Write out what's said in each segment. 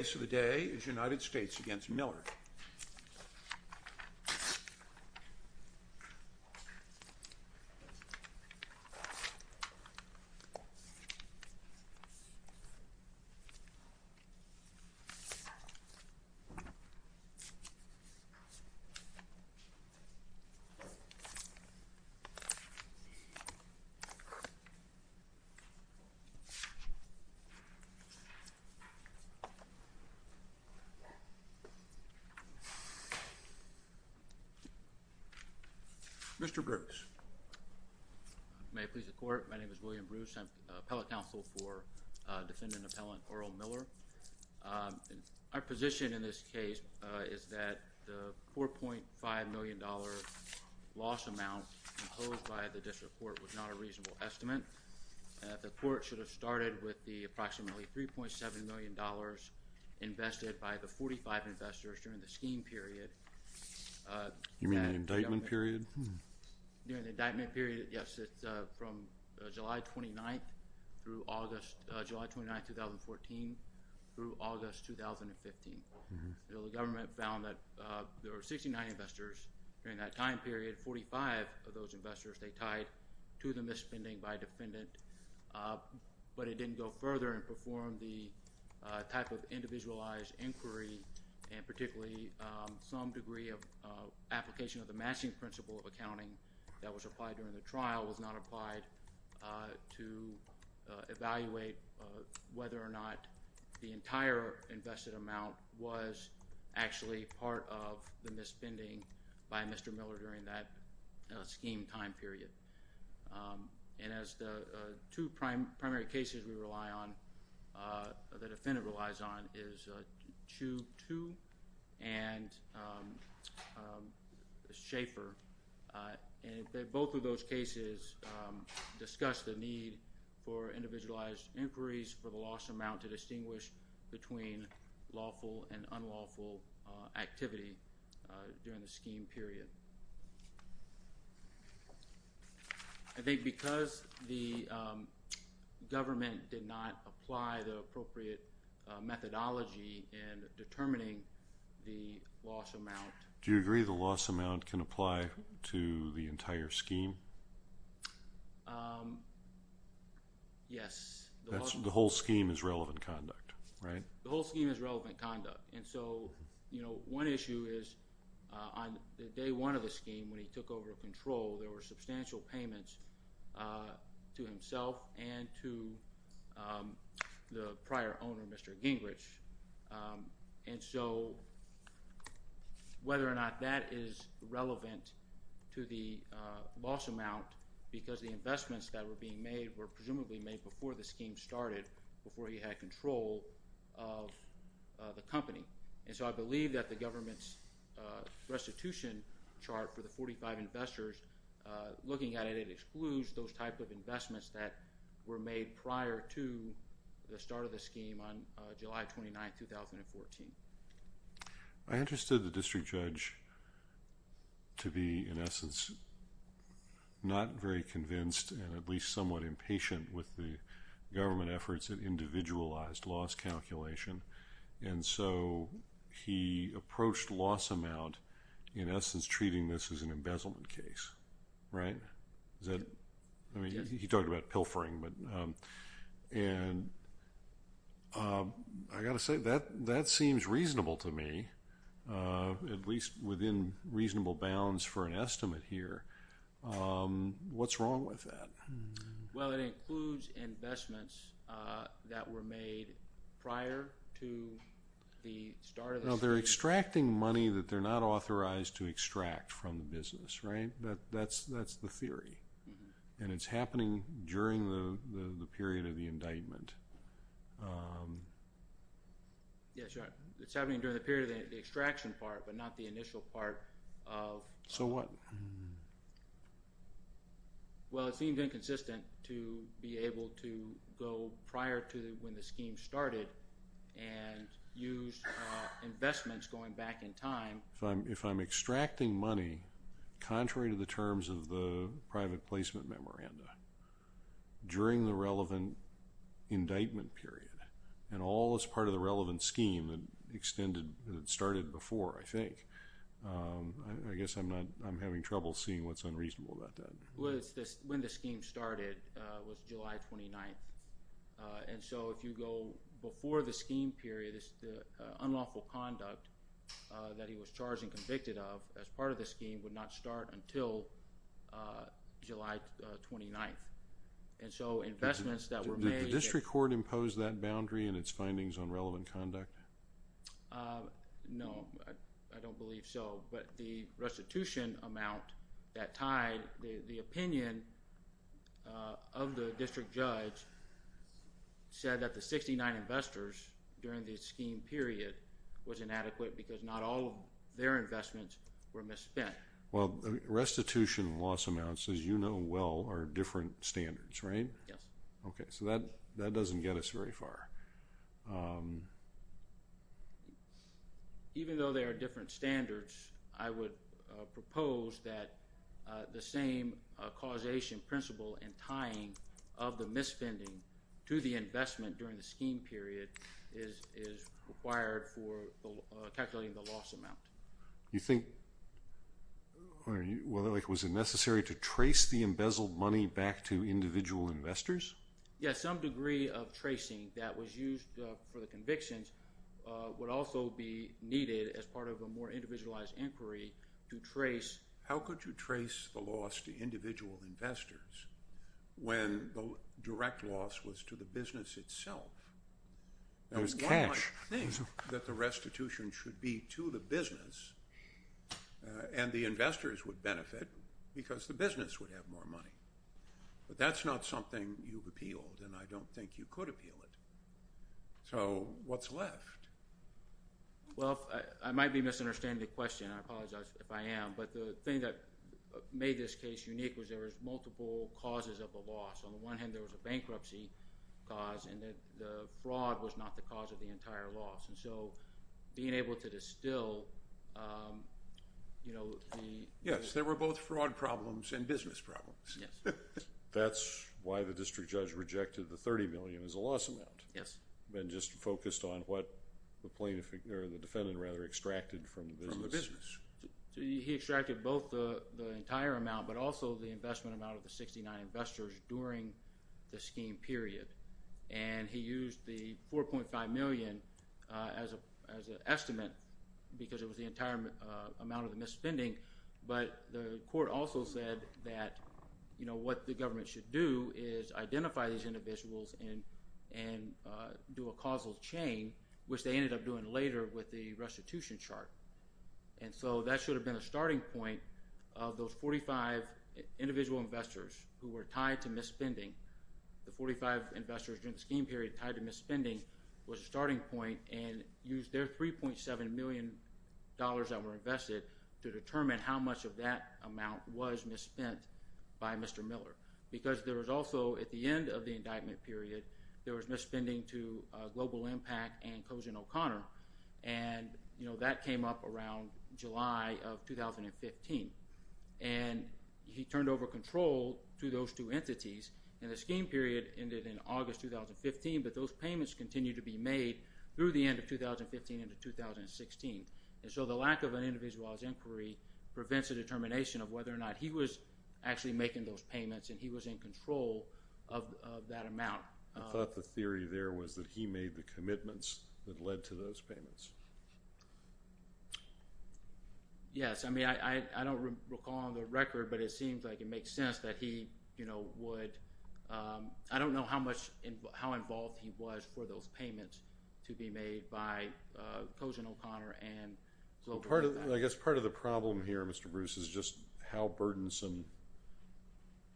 The case of the day is United States v. Miller Mr. Bruce, may I please the court? My name is William Bruce. I'm an appellate counsel for defendant appellant Earl Miller. Our position in this case is that the $4.5 million loss amount imposed by the district court was not a reasonable estimate. The court should have started with the approximately $3.7 million invested by the 45 investors during the scheme period. You mean the indictment period? During the indictment period, yes. It's from July 29th through August, July 29th, 2014 through August 2015. The government found that there were 69 investors during that time period, 45 of those investors they tied to the misspending by a defendant, but it didn't go further and perform the type of individualized inquiry and particularly some degree of application of the matching principle of accounting that was applied during the trial was not applied to evaluate whether or not the entire invested amount was actually part of the misspending by Mr. Miller during that scheme time period. And as the two primary cases we rely on, the defendant relies on is Chu Tu and Schaefer. Both of those cases discuss the need for individualized inquiries for the loss amount to distinguish between lawful and unlawful activity during the scheme period. I think because the government did not apply the appropriate methodology in determining the loss amount. Do you agree the loss amount can apply to the entire scheme? Yes. The whole scheme is relevant conduct? The whole scheme is relevant conduct. One issue is on day one of the scheme when he took over control, there were substantial payments to himself and to the prior owner, Mr. Gingrich. And so whether or not that is relevant to the loss amount because the investments that were being made were presumably made before the scheme started, before he had control of the company. And so I believe that the government's restitution chart for the 45 investors, looking at it, it excludes those type of investments that were made prior to the start of the scheme on July 29, 2014. I understood the district judge to be in essence not very convinced and at least somewhat impatient with the government efforts at individualized loss calculation. And so he approached loss amount in essence treating this as an embezzlement case, right? He talked about pilfering. And I got to say, that seems reasonable to me, at least within reasonable bounds for an estimate here. What's wrong with that? Well, it includes investments that were made prior to the start of the scheme. No, they're extracting money that they're not authorized to extract from the business, right? That's the theory. And it's happening during the period of the indictment. Yes, sir. It's happening during the period of the extraction part, but not the initial part of the indictment. So what? Well, it seems inconsistent to be able to go prior to when the scheme started and use investments going back in time. If I'm extracting money contrary to the terms of the private placement memoranda during the relevant indictment period, and all is part of the relevant scheme that started before, I think. I guess I'm having trouble seeing what's unreasonable about that. Well, when the scheme started was July 29. And so if you go before the scheme period, it's the unlawful conduct that he was charged and convicted of as part of the scheme would not start until July 29. And so investments that were made... Did the district court impose that boundary in its findings on relevant conduct? No, I don't believe so. But the restitution amount that tied the opinion of the district judge said that the 69 investors during the scheme period was inadequate because not all their investments were misspent. Well, restitution loss amounts, as you know well, are different standards, right? Yes. Okay, so that doesn't get us very far. Even though they are different standards, I would propose that the same causation principle and tying of the misspending to the investment during the scheme period is required for calculating the loss amount. Was it necessary to trace the embezzled money back to individual investors? Yes, some degree of tracing that was used for the convictions would also be needed as part of a more individualized inquiry to trace... How could you trace the loss to individual investors when the direct loss was to the business itself? That was cash. I think that the restitution should be to the business, and the investors would benefit because the business would have more money. But that's not something you've appealed, and I don't think you could appeal it. So what's left? Well, I might be misunderstanding the question. I apologize if I am. But the thing that made this case unique was there was multiple causes of the loss. On the one hand, there was a bankruptcy cause, and the fraud was not the cause of the entire loss. And so, being able to distill... Yes, there were both fraud problems and business problems. That's why the district judge rejected the $30 million as a loss amount. Yes. And just focused on what the defendant extracted from the business. He extracted both the entire amount, but also the investment amount of the 69 investors during the scheme period. And he used the $4.5 million as an estimate because it was the entire amount of the misspending. But the court also said that what the government should do is identify these individuals and do a causal chain, which they ended up doing later with the restitution chart. And so, that should have been a starting point of those 45 individual investors who were tied to misspending. The 45 investors during the scheme period tied to misspending was a starting point and used their $3.7 million that were invested to determine how much of that amount was misspent by Mr. Miller. Because there was also, at the end of the indictment period, there was misspending to Global Impact and Kozen O'Connor. And that came up around July of 2015. And he turned over control to those two entities. And the scheme period ended in August 2015, but those payments continued to be made through the end of 2015 into 2016. And so, the lack of an individualized inquiry prevents a determination of whether or not he was actually making those payments and he was in control of that amount. I thought the theory there was that he made the commitments that led to those payments. Yes. I mean, I don't recall on the record, but it seems like it makes sense that he, you know, would. I don't know how involved he was for those payments to be made by Kozen O'Connor and Global Impact. I guess part of the problem here, Mr. Bruce, is just how burdensome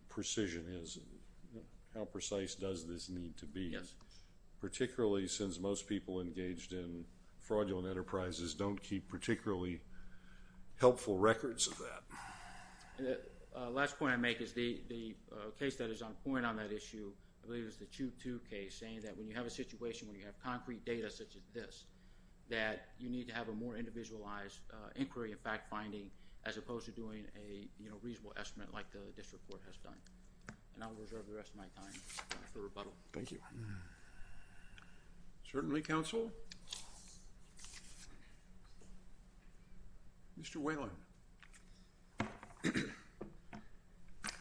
precision is and how precise does this need to be. Particularly since most people engaged in fraudulent enterprises don't keep particularly helpful records of that. The last point I make is the case that is on point on that issue, I believe it was the Chu Tu case, saying that when you have a situation where you have concrete data such as this, that you need to have a more individualized inquiry and fact finding as opposed to doing a, you know, reasonable estimate like the district court has done. And I'll reserve the rest of my time for rebuttal. Thank you. Certainly, Counsel. Mr. Whalen.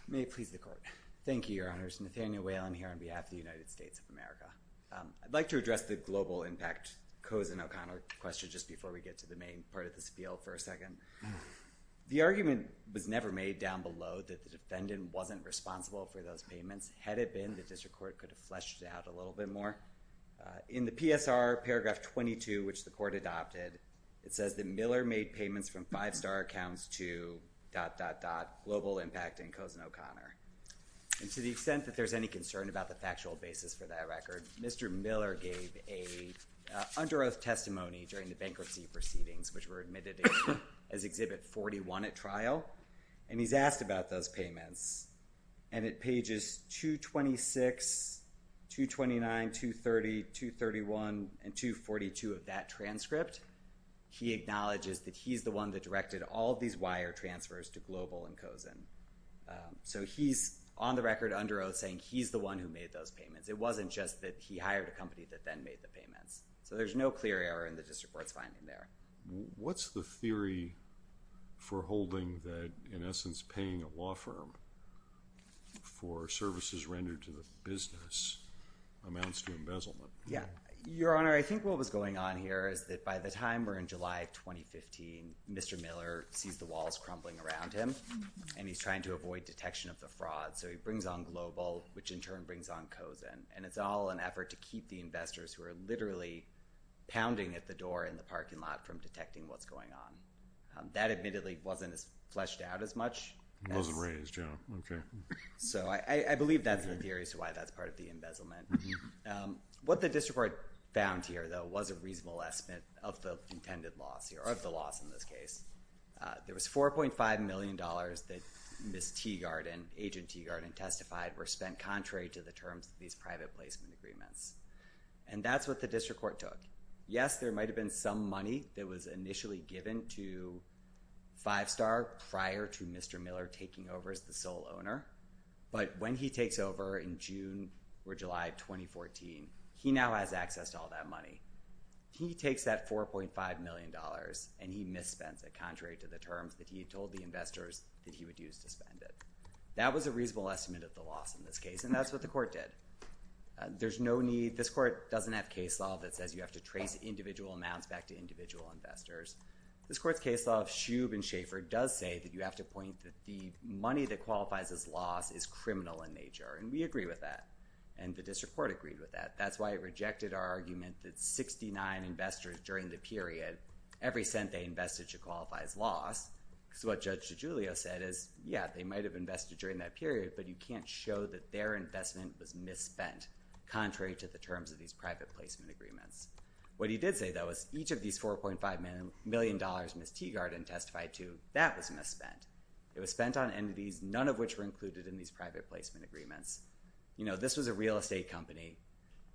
May it please the Court. Thank you, Your Honors. Nathaniel Whalen here on behalf of the United States of America. I'd like to address the Global Impact Kozen O'Connor question just before we get to the main part of this appeal for a second. The argument was never made down below that the defendant wasn't responsible for those payments. Had it been, the district court could have fleshed it out a little bit more. In the PSR paragraph 22, which the court adopted, it says that Miller made payments from five star accounts to dot, dot, dot, Global Impact and Kozen O'Connor. And to the extent that there's any concern about the factual basis for that record, Mr. Miller gave a under oath testimony during the bankruptcy proceedings, which were admitted as Exhibit 41 at trial, and he's asked about those payments. And at pages 226, 229, 230, 231, and 242 of that transcript, he acknowledges that he's the one that directed all these wire transfers to Global and Kozen. So, he's on the record under oath saying he's the one who made those payments. It wasn't just that he hired a company that then made the payments. So, there's no clear error in the district court's finding there. What's the theory for holding that, in essence, paying a law firm for services rendered to the business amounts to embezzlement? Your Honor, I think what was going on here is that by the time we're in July of 2015, Mr. Miller sees the walls crumbling around him, and he's trying to avoid detection of the fraud. So, he brings on Global, which in turn brings on Kozen. And it's all an effort to keep the investors who are literally pounding at the door in the parking lot from detecting what's going on. That, admittedly, wasn't fleshed out as much. It wasn't raised, yeah. Okay. So, I believe that's the theory as to why that's part of the embezzlement. What the district court found here, though, was a reasonable estimate of the intended loss here, or of the loss in this case. There was $4.5 million that Ms. Teagarden, Agent Teagarden, testified were spent contrary to the terms of these private placement agreements. And that's what the district court took. Yes, there might have been some money that was initially given to Five Star prior to Mr. Miller taking over as the sole owner. But when he takes over in June or July of 2014, he now has access to all that money. He takes that $4.5 million, and he misspends it contrary to the terms that he had told the investors that he would use to spend it. That was a reasonable estimate of the loss in this case, and that's what the court did. There's no need—this court doesn't have case law that says you have to trace individual amounts back to individual investors. This court's case law of Shube and Schaefer does say that you have to point that the money that qualifies as loss is criminal in nature, and we agree with that. And the district court agreed with that. That's why it rejected our argument that 69 investors during the period, every cent they invested should qualify as loss. Because what Judge DiGiulio said is, yeah, they might have invested during that period, but you can't show that their investment was misspent contrary to the terms of these private placement agreements. What he did say, though, is each of these $4.5 million Miss Teagarden testified to, that was misspent. It was spent on entities, none of which were included in these private placement agreements. You know, this was a real estate company.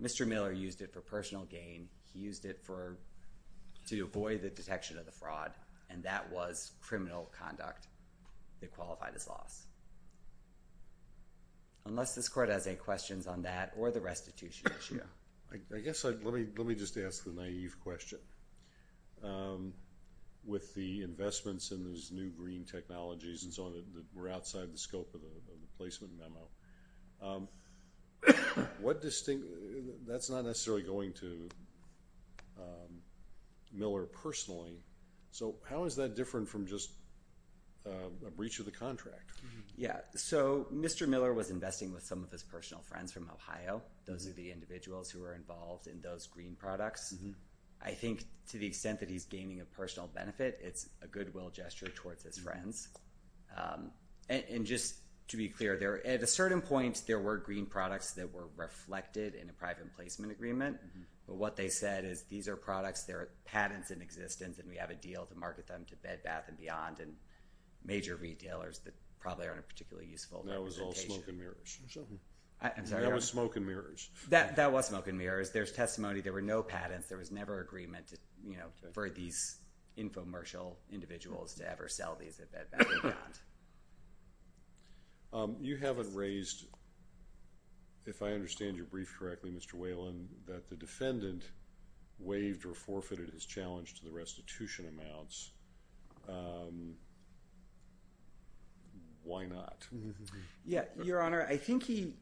Mr. Miller used it for personal gain. He used it to avoid the detection of the fraud, and that was criminal conduct that qualified as loss, unless this court has any questions on that or the restitution issue. I guess let me just ask the naive question. With the investments in these new green technologies and so on that were outside the scope of the placement memo, that's not necessarily going to Miller personally. So how is that different from just a breach of the contract? Yeah. So Mr. Miller was investing with some of his personal friends from Ohio. Those are the individuals who were involved in those green products. I think to the extent that he's gaining a personal benefit, it's a goodwill gesture towards his friends. And just to be clear, at a certain point, there were green products that were reflected in a private placement agreement. But what they said is, these are products, they're patents in existence, and we have a deal to market them to Bed Bath and Beyond and major retailers that probably aren't particularly useful. That was all smoke and mirrors or something. I'm sorry. That was smoke and mirrors. That was smoke and mirrors. There's testimony. There were no patents. There was never agreement for these infomercial individuals to ever sell these at Bed Bath and Beyond. You haven't raised, if I understand your brief correctly, Mr. Whalen, that the defendant waived or forfeited his challenge to the restitution amounts. Why not? Yeah. Your Honor, I think he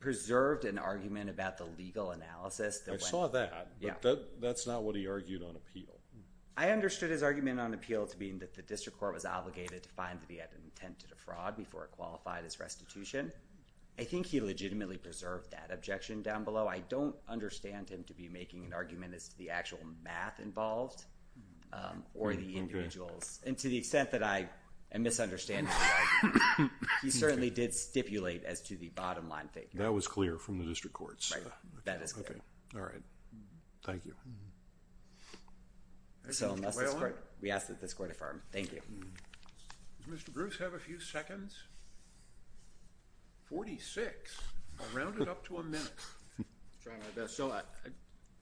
preserved an argument about the legal analysis. I saw that. But that's not what he argued on appeal. I understood his argument on appeal to being that the district court was obligated to find that he had an intent to defraud before it qualified his restitution. I think he legitimately preserved that objection down below. I don't understand him to be making an argument as to the actual math involved or the individuals. And to the extent that I am misunderstanding, he certainly did stipulate as to the bottom line figure. That was clear from the district courts. That is clear. Okay. All right. Thank you. So we ask that this court affirm. Thank you. Does Mr. Bruce have a few seconds? Forty-six. I rounded up to a minute. I'm trying my best. So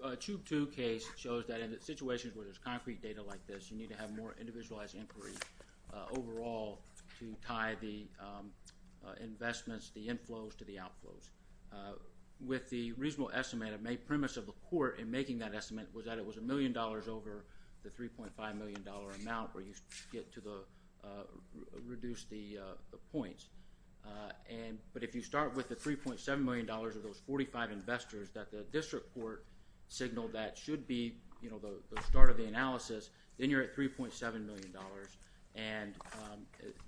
a tube two case shows that in situations where there's concrete data like this, you need to have more individualized inquiry overall to tie the investments, the inflows to the outflows. With the reasonable estimate, a premise of the court in making that estimate was that it was a million dollars over the $3.5 million amount where you get to reduce the points. But if you start with the $3.7 million of those 45 investors that the district court signaled that should be the start of the analysis, then you're at $3.7 million. And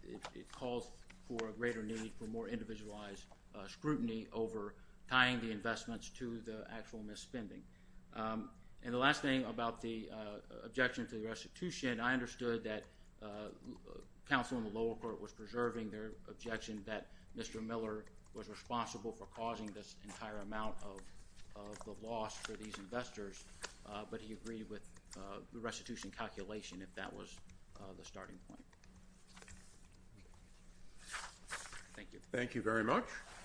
it calls for a greater need for more individualized scrutiny over tying the investments to the actual misspending. And the last thing about the objection to the restitution, I understood that counsel in the lower court was preserving their objection that Mr. Miller was responsible for causing this entire amount of the loss for these investors, but he agreed with the restitution calculation if that was the starting point. Thank you. Thank you very much.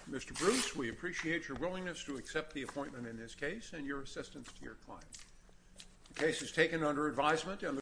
Mr. Bruce, we appreciate your willingness to accept the appointment in this case and your assistance to your client. The case is taken under advisement.